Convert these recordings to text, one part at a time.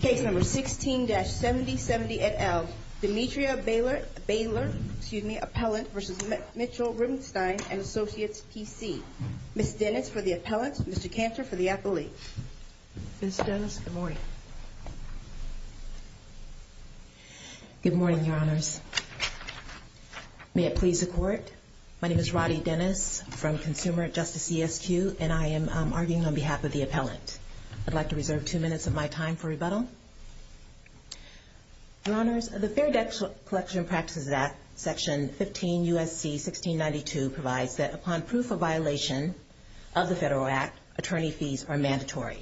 Case number 16-7070 et al. Demetra Baylor, excuse me, Appellant v. Mitchell Rubenstein & Associates, PC. Ms. Dennis for the appellant, Mr. Cantor for the appellee. Ms. Dennis, good morning. Good morning, your honors. May it please the court. My name is Roddy Dennis from Consumer Justice CSQ, and I am arguing on behalf of the appellant. I'd like to reserve two minutes of my time for rebuttal. Your honors, the Fair Debt Collection Practices Act, section 15 U.S.C. 1692 provides that upon proof of violation of the Federal Act, attorney fees are mandatory.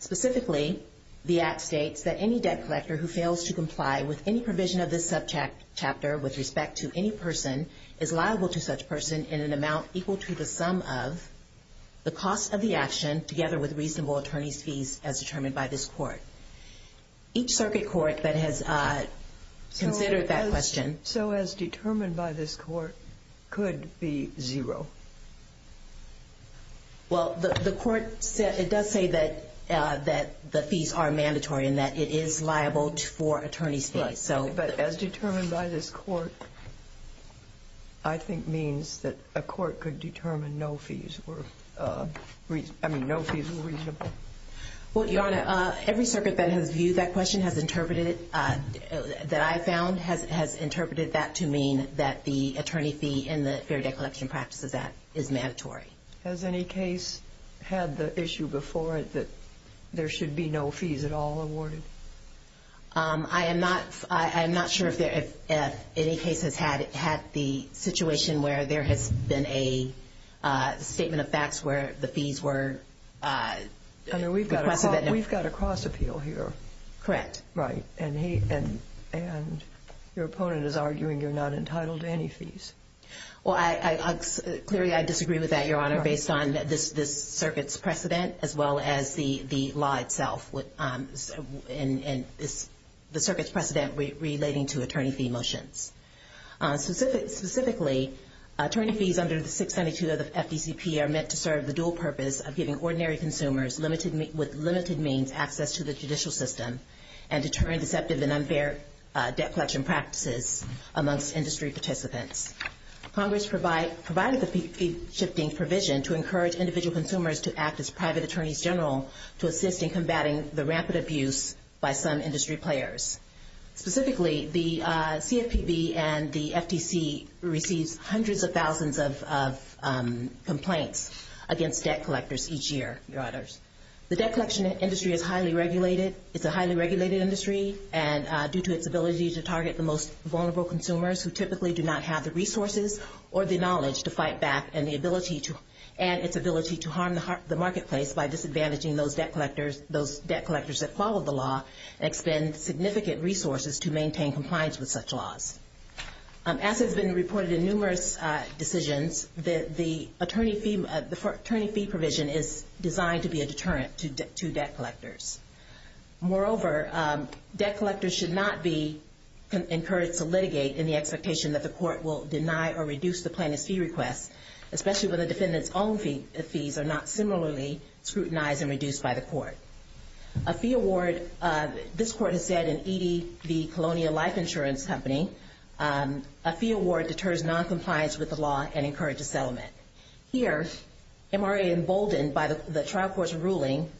Specifically, the act states that any debt collector who fails to comply with any provision of this subject chapter with respect to any person is liable to such person in an amount equal to the sum of the cost of the action together with reasonable attorney's fees as determined by this court. Each circuit court that has considered that question. So as determined by this court could be zero. Well, the court said it does say that that the fees are mandatory and that it is liable for attorney's fees. So but as determined by this court, I think means that a fee is reasonable. Well, your honor, every circuit that has viewed that question has interpreted it that I found has interpreted that to mean that the attorney fee in the Fair Debt Collection Practices Act is mandatory. Has any case had the issue before it that there should be no fees at all awarded? I am not. I am not sure if there if any case has had had the situation where there has been a statement of facts where the fees were under we've got we've got a cross appeal here, correct? Right. And he and and your opponent is arguing you're not entitled to any fees. Well, I clearly I disagree with that, your honor, based on this, this circuit's precedent, as well as the the law itself with in this, the circuit's precedent relating to attorney fee motions. Specific specifically, attorney fees under the 692 of the FTCP are meant to serve the dual purpose of giving ordinary consumers limited with limited means access to the judicial system and deterring deceptive and unfair debt collection practices amongst industry participants. Congress provide provided the fee shifting provision to encourage individual consumers to act as private attorneys general to assist in combating the rampant abuse by some industry players. Specifically, the CFPB and the FTC receives hundreds of complaints against debt collectors each year, your honors. The debt collection industry is highly regulated. It's a highly regulated industry and due to its ability to target the most vulnerable consumers who typically do not have the resources or the knowledge to fight back and the ability to and its ability to harm the marketplace by disadvantaging those debt collectors, those debt collectors that follow the law and expend significant resources to maintain compliance with such laws. As has been reported in numerous decisions, the attorney fee, the attorney fee provision is designed to be a deterrent to debt collectors. Moreover, debt collectors should not be encouraged to litigate in the expectation that the court will deny or reduce the plaintiff's fee request, especially when the defendant's own fees are not similarly scrutinized and reduced by the court. A fee award, this court has said in E.D. the Colonial Life Insurance Company, a fee award deters noncompliance with the law and encourage a settlement. Here, MRA emboldened by the trial court's ruling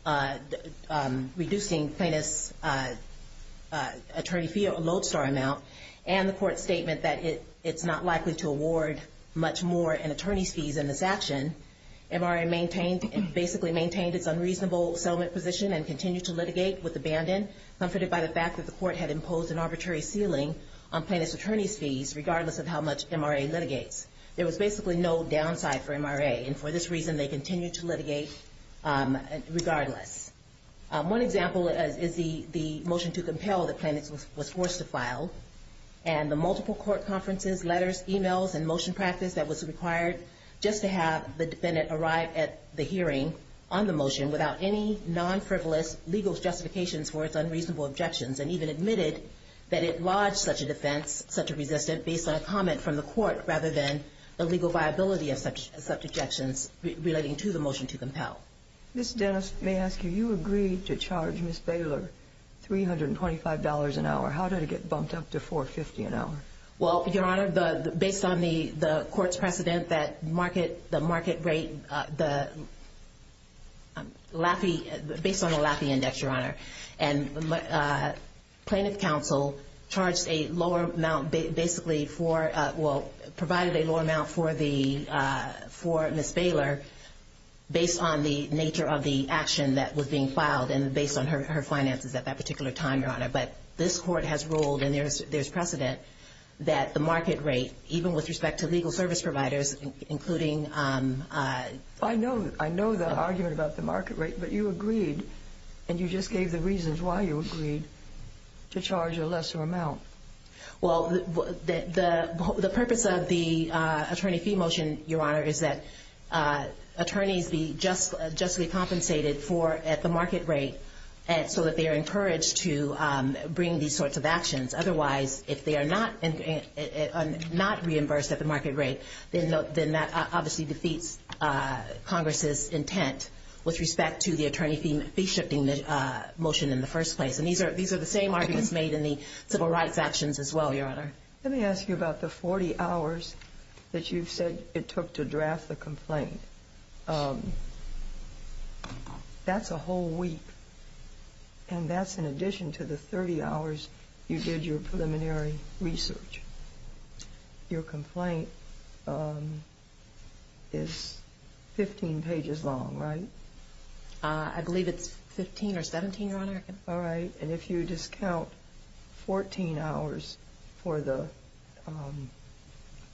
reducing plaintiff's attorney fee, a lodestar amount, and the court statement that it's not likely to award much more in attorney's fees in this action, MRA maintained, basically maintained its unreasonable settlement position and continued to litigate with abandon, comforted by the fact that the court had imposed an arbitrary ceiling on plaintiff's attorney's fees, regardless of how much MRA litigates. There was basically no downside for MRA, and for this reason, they continued to litigate regardless. One example is the motion to compel the plaintiff was forced to file, and the multiple court conferences, letters, emails, and motion practice that was required just to have the defendant arrive at the hearing on the motion without any non-frivolous legal justifications for its unreasonable objections, and even admitted that it lodged such a defense, such a resistant, based on a comment from the court, rather than the legal viability of such objections relating to the motion to compel. Ms. Dennis, may I ask you, you agreed to charge Ms. Baylor $325 an hour. How did it get bumped up to $450 an hour? Well, Your Honor, based on the court's precedent, the market rate, based on the Laffey Index, Your Honor, and plaintiff counsel charged a lower amount basically for, well, provided a lower amount for the, for Ms. Baylor based on the nature of the action that was being filed and based on her finances at that particular time, Your Honor, but this Court has ruled, and there's precedent, that the market rate, even with respect to legal service providers, including I know, I know the argument about the market rate, but you agreed, and you just gave the reasons why you agreed, to charge a lesser amount. Well, the purpose of the attorney fee motion, Your Honor, is that attorneys be justly compensated for at the market rate, so that they are encouraged to bring these sorts of actions. Otherwise, if they are not reimbursed at the market rate, then that obviously defeats Congress's intent with respect to the attorney fee shifting motion in the first place. And these are, these are the same arguments made in the civil rights actions as well, Your Honor. Let me ask you about the 40 hours that you've said it took to draft the complaint. That's a whole week, and that's in addition to the 30 hours you did your preliminary research. Your complaint is 15 pages long, right? I believe it's 15 or 17, Your Honor. All right. And if you discount 14 hours for the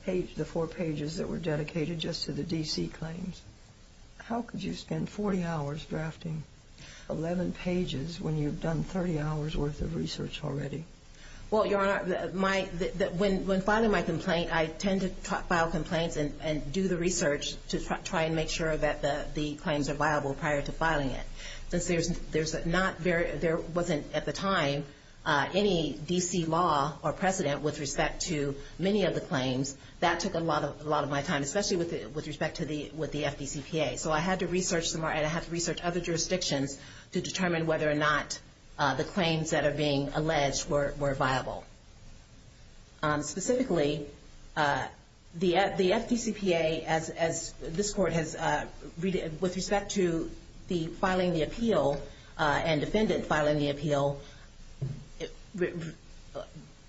page, the four pages that were dedicated just to the D.C. claims, how could you spend 40 hours drafting 11 pages when you've done 30 hours worth of research already? Well, Your Honor, when filing my complaint, I tend to file complaints and do the research to try and make sure that the claims are viable prior to filing it, since there's not very, there wasn't at the time any D.C. law or precedent with respect to many of the claims that took a lot of, a lot of my time, especially with, with respect to the, with the FDCPA. So I had to research some more and I had to research other jurisdictions to determine whether or not the claims that are being alleged were, were viable. Specifically, the FDCPA, as, as this court has, with respect to the filing the appeal and defendant filing the appeal,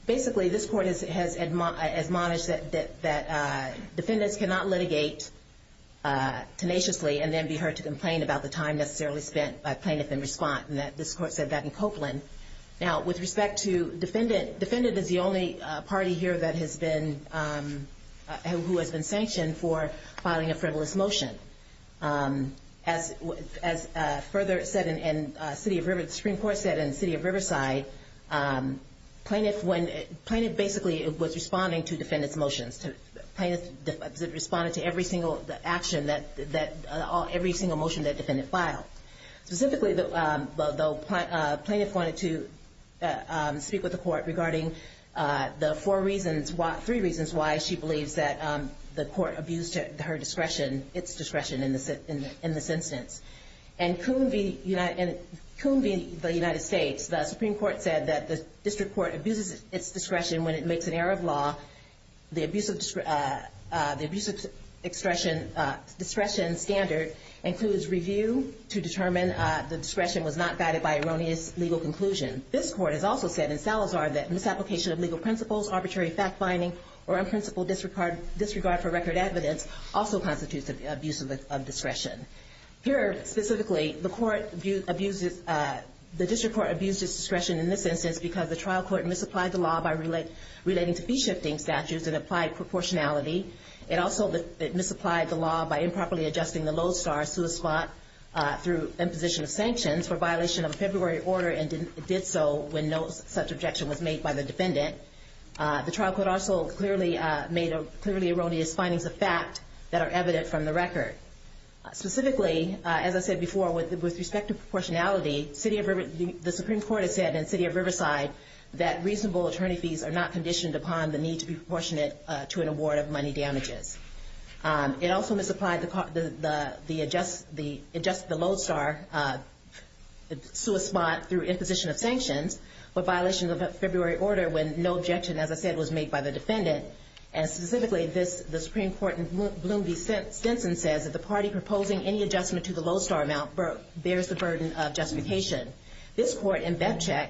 basically this court has, has admonished that, that, that defendants cannot litigate tenaciously and then be heard to complain about the time necessarily spent by plaintiff in response, and that this court said that in Copeland. Now, with respect to defendant, defendant is the only party here that has been, who has been sanctioned for filing a defendant's motion. As, as further said in, in City of Rivers, the Supreme Court said in City of Riverside, plaintiff, when, plaintiff basically was responding to defendants' motions. To, plaintiff responded to every single action that, that all, every single motion that defendant filed. Specifically, the, the plaintiff wanted to speak with the court regarding the four reasons why, three reasons why she believes that the court abused her discretion, its discretion in this, in this instance. And Coon v. United, Coon v. the United States, the Supreme Court said that the district court abuses its discretion when it makes an error of law. The abuse of, the abuse of discretion, discretion standard includes review to determine the discretion was not guided by erroneous legal conclusion. This court has also said in Salazar that misapplication of legal principles, arbitrary fact-finding, or unprincipled disregard, disregard for record evidence also constitutes abuse of discretion. Here, specifically, the court abuses, the district court abuses discretion in this instance because the trial court misapplied the law by relating to fee-shifting statutes and applied proportionality. It also misapplied the law by improperly adjusting the Lowe star, SUA spot, through imposition of sanctions for violation of February order and did so when no such objection was made by the defendant. The trial court also clearly made clearly erroneous findings of fact that are evident from the record. Specifically, as I said before, with respect to proportionality, city of, the Supreme Court has said in city of Riverside that reasonable attorney fees are not conditioned upon the need to be proportionate to an award of money damages. It also misapplied the, the adjust, the adjust the Lowe star, SUA spot through imposition of sanctions for violations of February order when no objection, as I said, was made by the defendant. And specifically this, the Supreme Court in Bloom v. Stinson says that the party proposing any adjustment to the Lowe star amount bears the burden of justification. This court in Betchik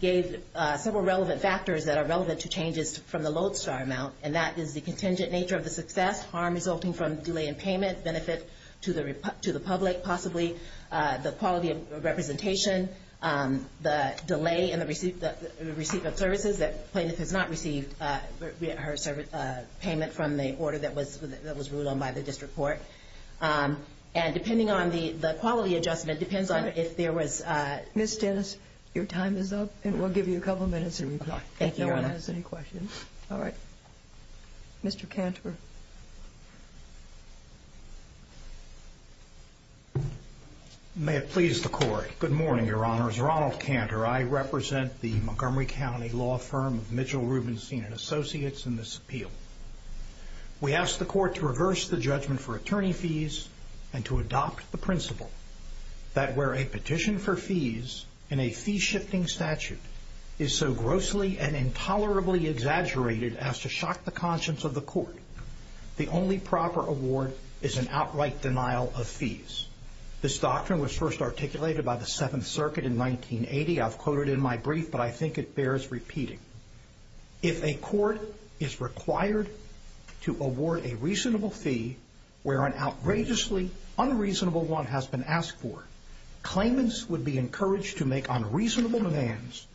gave several relevant factors that are relevant to changes from the Lowe star amount. And that is the contingent nature of the success, harm resulting from delay in payment, benefit to the, to the public, possibly the quality of representation, the delay in the receipt, the receipt of services that plaintiff has not received, her payment from the order that was, that was ruled on by the district court. And depending on the, the quality adjustment depends on if there was, Miss Dennis, your time is up and we'll give you a couple of minutes to reply. Thank you. No one has any questions. All right. Mr. Cantor. May it please the court. Good morning, your honors. Ronald Cantor. I represent the Montgomery County law firm of Mitchell Rubenstein and associates. And this appeal, we asked the court to reverse the judgment for attorney fees and to adopt the principle that where a petition for fees in a fee shifting statute is so grossly and intolerably exaggerated as to shock the conscience of the court, the only proper award is an outright denial of fees. This doctrine was first articulated by the seventh circuit in 1980. I've quoted in my brief, but I think it bears repeating. If a court is required to award a reasonable fee where an outrageously unreasonable one has been asked for, claimants would be encouraged to make unreasonable demands,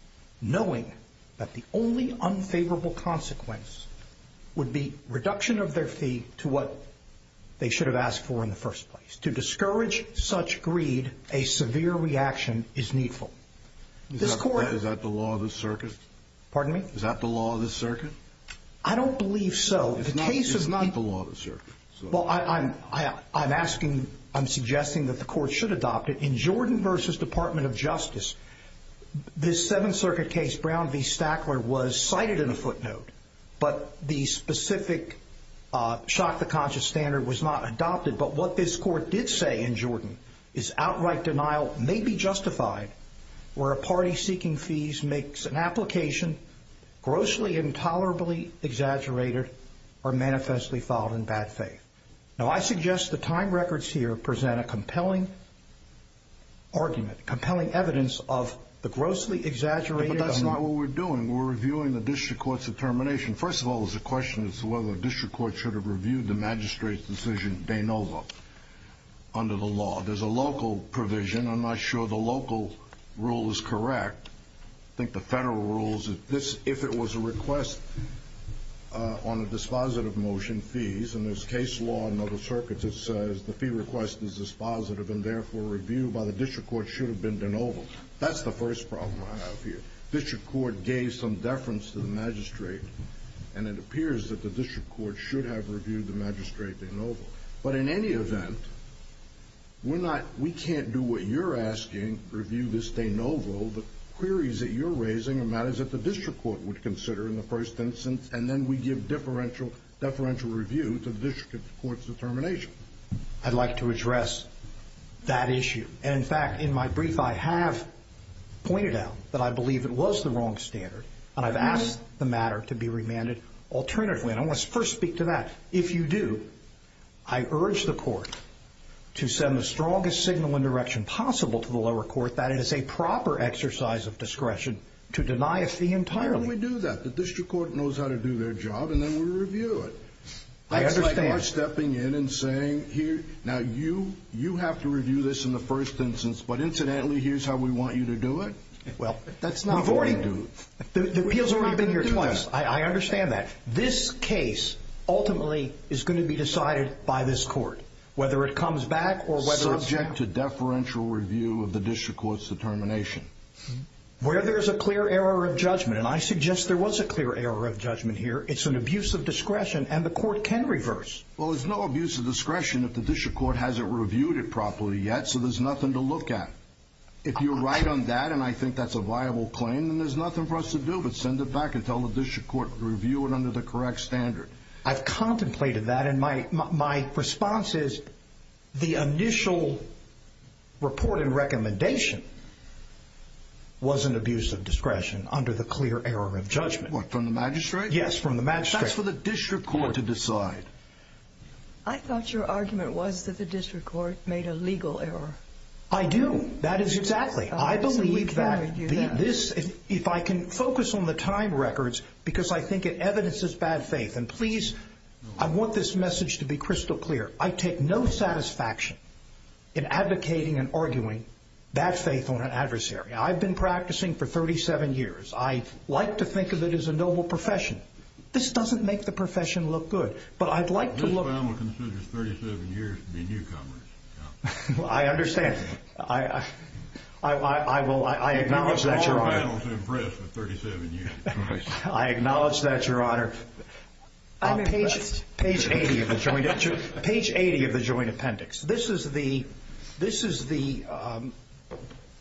knowing that the only unfavorable consequence would be reduction of their fee to what they should have asked for in the first place. To discourage such greed, a severe reaction is needful. This court. Is that the law of the circus? Pardon me? Is that the law of the circuit? I don't believe so. The case is not the law of the circuit. Well, I'm I'm asking. I'm suggesting that the court should adopt it in Jordan versus Department of Justice. This seventh circuit case, Brown v. Stackler was cited in a footnote, but the specific shock the conscious standard was not adopted. But what this court did say in Jordan is outright denial may be justified where a party seeking fees makes an implication grossly, intolerably exaggerated or manifestly filed in bad faith. Now, I suggest the time records here present a compelling argument, compelling evidence of the grossly exaggerated. But that's not what we're doing. We're reviewing the district court's determination. First of all, there's a question as to whether the district court should have reviewed the magistrate's decision. They know what under the law. There's a local provision. I'm not sure the local rule is correct. I think the federal rules of this, if it was a request on a dispositive motion, fees and this case law and other circuits, it says the fee request is dispositive and therefore reviewed by the district court should have been de novo. That's the first problem I have here. District court gave some deference to the magistrate. And it appears that the district court should have reviewed the magistrate de novo. But in any event. We're not we can't do what you're asking, review this de novo. The queries that you're raising are matters that the district court would consider in the first instance. And then we give differential deferential review to the district court's determination. I'd like to address that issue. And in fact, in my brief, I have pointed out that I believe it was the wrong standard. And I've asked the matter to be remanded alternatively. And I want to first speak to that. If you do, I urge the court to send the strongest signal and direction possible to the lower court. That is a proper exercise of discretion to deny us the entire we do that the district court knows how to do their job and then we review it. I understand stepping in and saying here now you you have to review this in the first instance. But incidentally, here's how we want you to do it. Well, that's not boring. The appeals have been here twice. I understand that this case ultimately is going to be decided by this court, whether it comes back or whether to deferential review of the district court's determination where there is a clear error of judgment. And I suggest there was a clear error of judgment here. It's an abuse of discretion and the court can reverse. Well, there's no abuse of discretion if the district court hasn't reviewed it properly yet. So there's nothing to look at if you're right on that. And I think that's a viable claim and there's nothing for us to do but send it back and tell the district court review it under the correct standard. I've contemplated that. And my my response is the initial report and recommendation. Was an abuse of discretion under the clear error of judgment from the magistrate. Yes. From the magistrate for the district court to decide. I thought your argument was that the district court made a legal error. I do. That is exactly. I believe that this is if I can focus on the time records because I think it evidences bad faith. And please, I want this message to be crystal clear. I take no satisfaction in advocating and arguing that faith on an adversary. I've been practicing for 37 years. I like to think of it as a noble profession. This doesn't make the profession look good, but I'd like to look. This family considers 37 years to be newcomers. I understand. I, I, I, I, I will. I acknowledge that your honor. It's hard to impress with 37 years of experience. I acknowledge that your honor. I'm a page page 80 of the joint page 80 of the joint appendix. This is the, this is the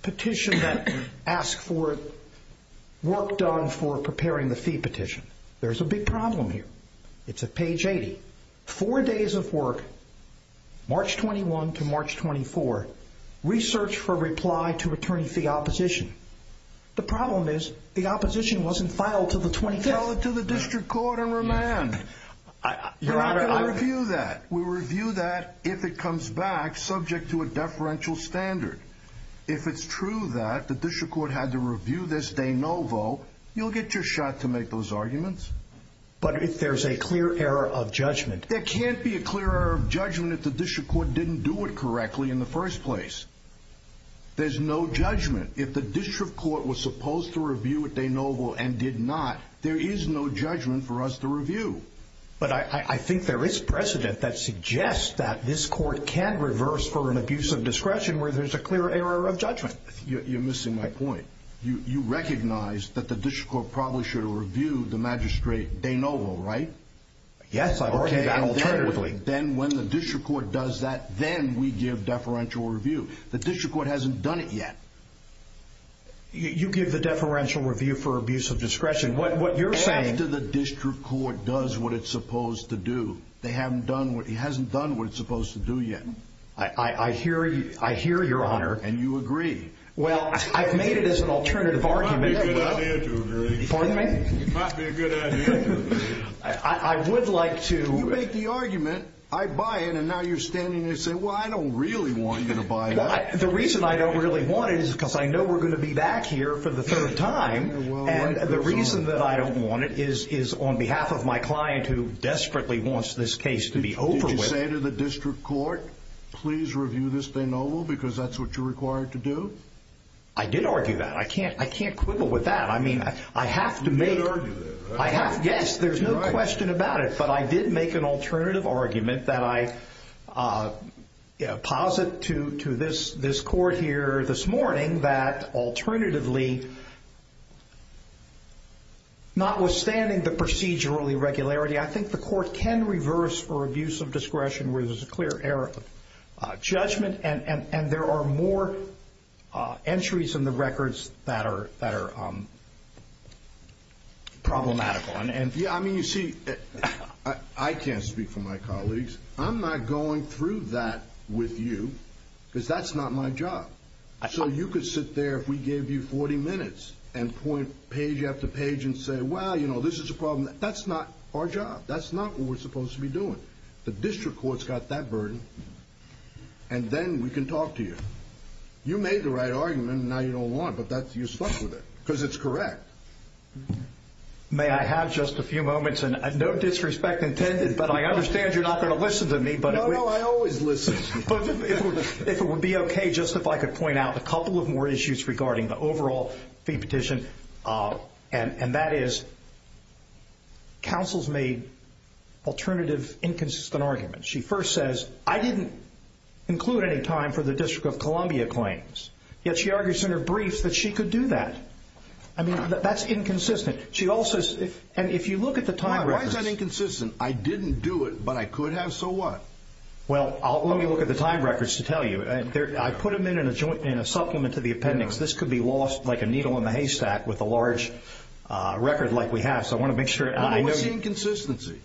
petition that asked for work done for preparing the fee petition. There's a big problem here. It's a page 80, four days of work, March 21 to March 24 research for reply to attorney fee opposition. The problem is the opposition wasn't filed to the 20, to the district court and remand that we review that. If it comes back subject to a deferential standard, if it's true that the district court had to review this day, no vote, you'll get your shot to make those arguments. But if there's a clear error of judgment, there can't be a clear error of judgment at the district court. Didn't do it correctly in the first place. There's no judgment. If the district court was supposed to review what they noble and did not, there is no judgment for us to review. But I think there is precedent that suggests that this court can reverse for an abuse of discretion where there's a clear error of judgment. You're missing my point. You, you recognize that the district court probably should have reviewed the magistrate. They know, right? Yes. I've already done alternatively. Then when the district court does that, then we give deferential review. The district court hasn't done it yet. You give the deferential review for abuse of discretion. What, what you're saying to the district court does what it's supposed to do. They haven't done what he hasn't done. What it's supposed to do yet. I hear you. I hear your honor and you agree. Well, I've made it as an alternative argument. Pardon me. I would like to make the argument I buy it. And now you're standing there saying, well, I don't really want you to buy. The reason I don't really want it is because I know we're going to be back here for the third time. And the reason that I don't want it is, is on behalf of my client who desperately wants this case to be over with. Did you say to the district court, please review this thing over because that's what you're required to do. I did argue that I can't, I can't quibble with that. I mean, I have to make, I have, yes, there's no question about it, but I did make an alternative argument that I, uh, posit to, to this, this court here this alternatively, not withstanding the procedural irregularity, I think the court can reverse or abuse of discretion where there's a clear error of judgment. And, and, and there are more, uh, entries in the records that are, that are, um, problematical. And, and yeah, I mean, you see, I can't speak for my colleagues. I'm not going through that with you because that's not my job. So you could sit there. If we gave you 40 minutes and point page after page and say, well, you know, this is a problem that that's not our job. That's not what we're supposed to be doing. The district court's got that burden and then we can talk to you. You made the right argument and now you don't want, but that's, you're stuck with it because it's correct. May I have just a few moments and no disrespect intended, but I understand you're not going to listen to me, but I always listen if it would be okay. Just if I could point out a couple of more issues regarding the overall fee petition, uh, and, and that is counsel's made alternative inconsistent arguments. She first says, I didn't include any time for the district of Columbia claims yet. She argues in her briefs that she could do that. I mean, that's inconsistent. She also says, and if you look at the time, why is that inconsistent? I didn't do it, but I could have. So what? Well, let me look at the time records to tell you. I put them in, in a joint, in a supplement to the appendix. This could be lost like a needle in the haystack with a large, uh, record like we have. So I want to make sure I know. What's the inconsistency?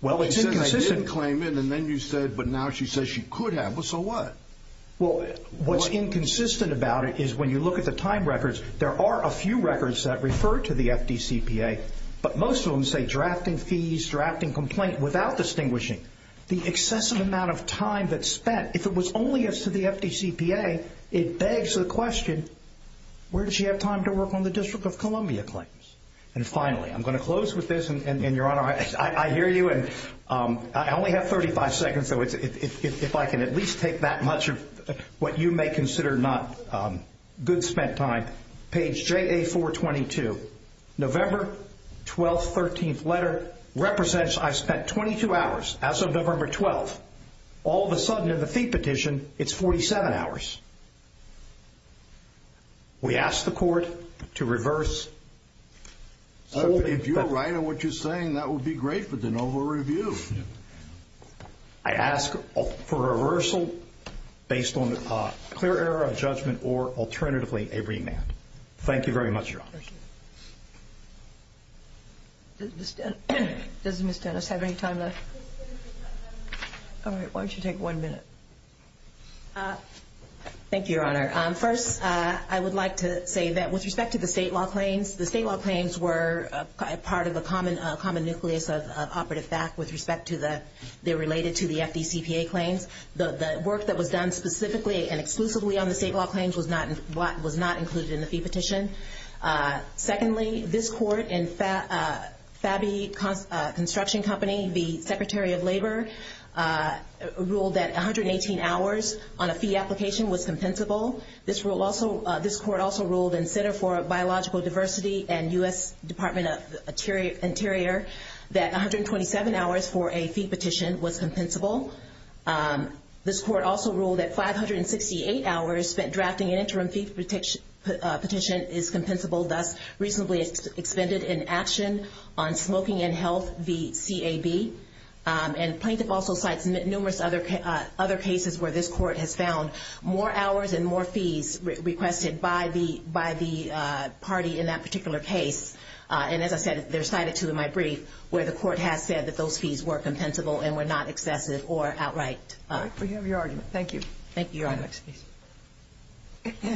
Well, it's inconsistent. I didn't claim it. And then you said, but now she says she could have. Well, so what? Well, what's inconsistent about it is when you look at the time records, there are a few records that refer to the FDCPA, but most of them say drafting fees, drafting complaint without distinguishing the excessive amount of time that spent. If it was only as to the FDCPA, it begs the question, where did she have time to work on the District of Columbia claims? And finally, I'm going to close with this. And your Honor, I hear you. And, um, I only have 35 seconds. So if I can at least take that much of what you may consider not, um, good spent time, page JA 422, November 12th, 13th letter represents I spent 22 hours as of November 12th, all of a sudden in the fee petition, it's 47 hours. We asked the court to reverse. If you're right on what you're saying, that would be great for the Novo review. I ask for a reversal based on a clear error of judgment or alternatively, a remand. Thank you very much, Your Honor. Does Ms. Dennis have any time left? All right. Why don't you take one minute? Uh, thank you, Your Honor. Um, first, uh, I would like to say that with respect to the state law claims, the state law claims were a part of a common, a common nucleus of operative fact with respect to the, they're related to the FDCPA claims. The, the work that was done specifically and exclusively on the state law claims was not, was not included in the fee petition. Uh, secondly, this court and, uh, FABI, uh, construction company, the Secretary of Labor, uh, ruled that 118 hours on a fee application was compensable. This rule also, uh, this court also ruled in Center for Biological Diversity and U.S. Department of Interior that 127 hours for a fee petition was compensable. Um, this court also ruled that 568 hours spent drafting an interim fee petition, uh, petition is compensable, thus reasonably expended in action on smoking and health, the CAB. Um, and plaintiff also cites numerous other, uh, other cases where this court has found more hours and more fees requested by the, by the, uh, party in that particular case, uh, and as I said, they're cited to in my brief where the court has said that those fees were compensable and were not excessive or outright, uh, we have your argument. Thank you. Thank you.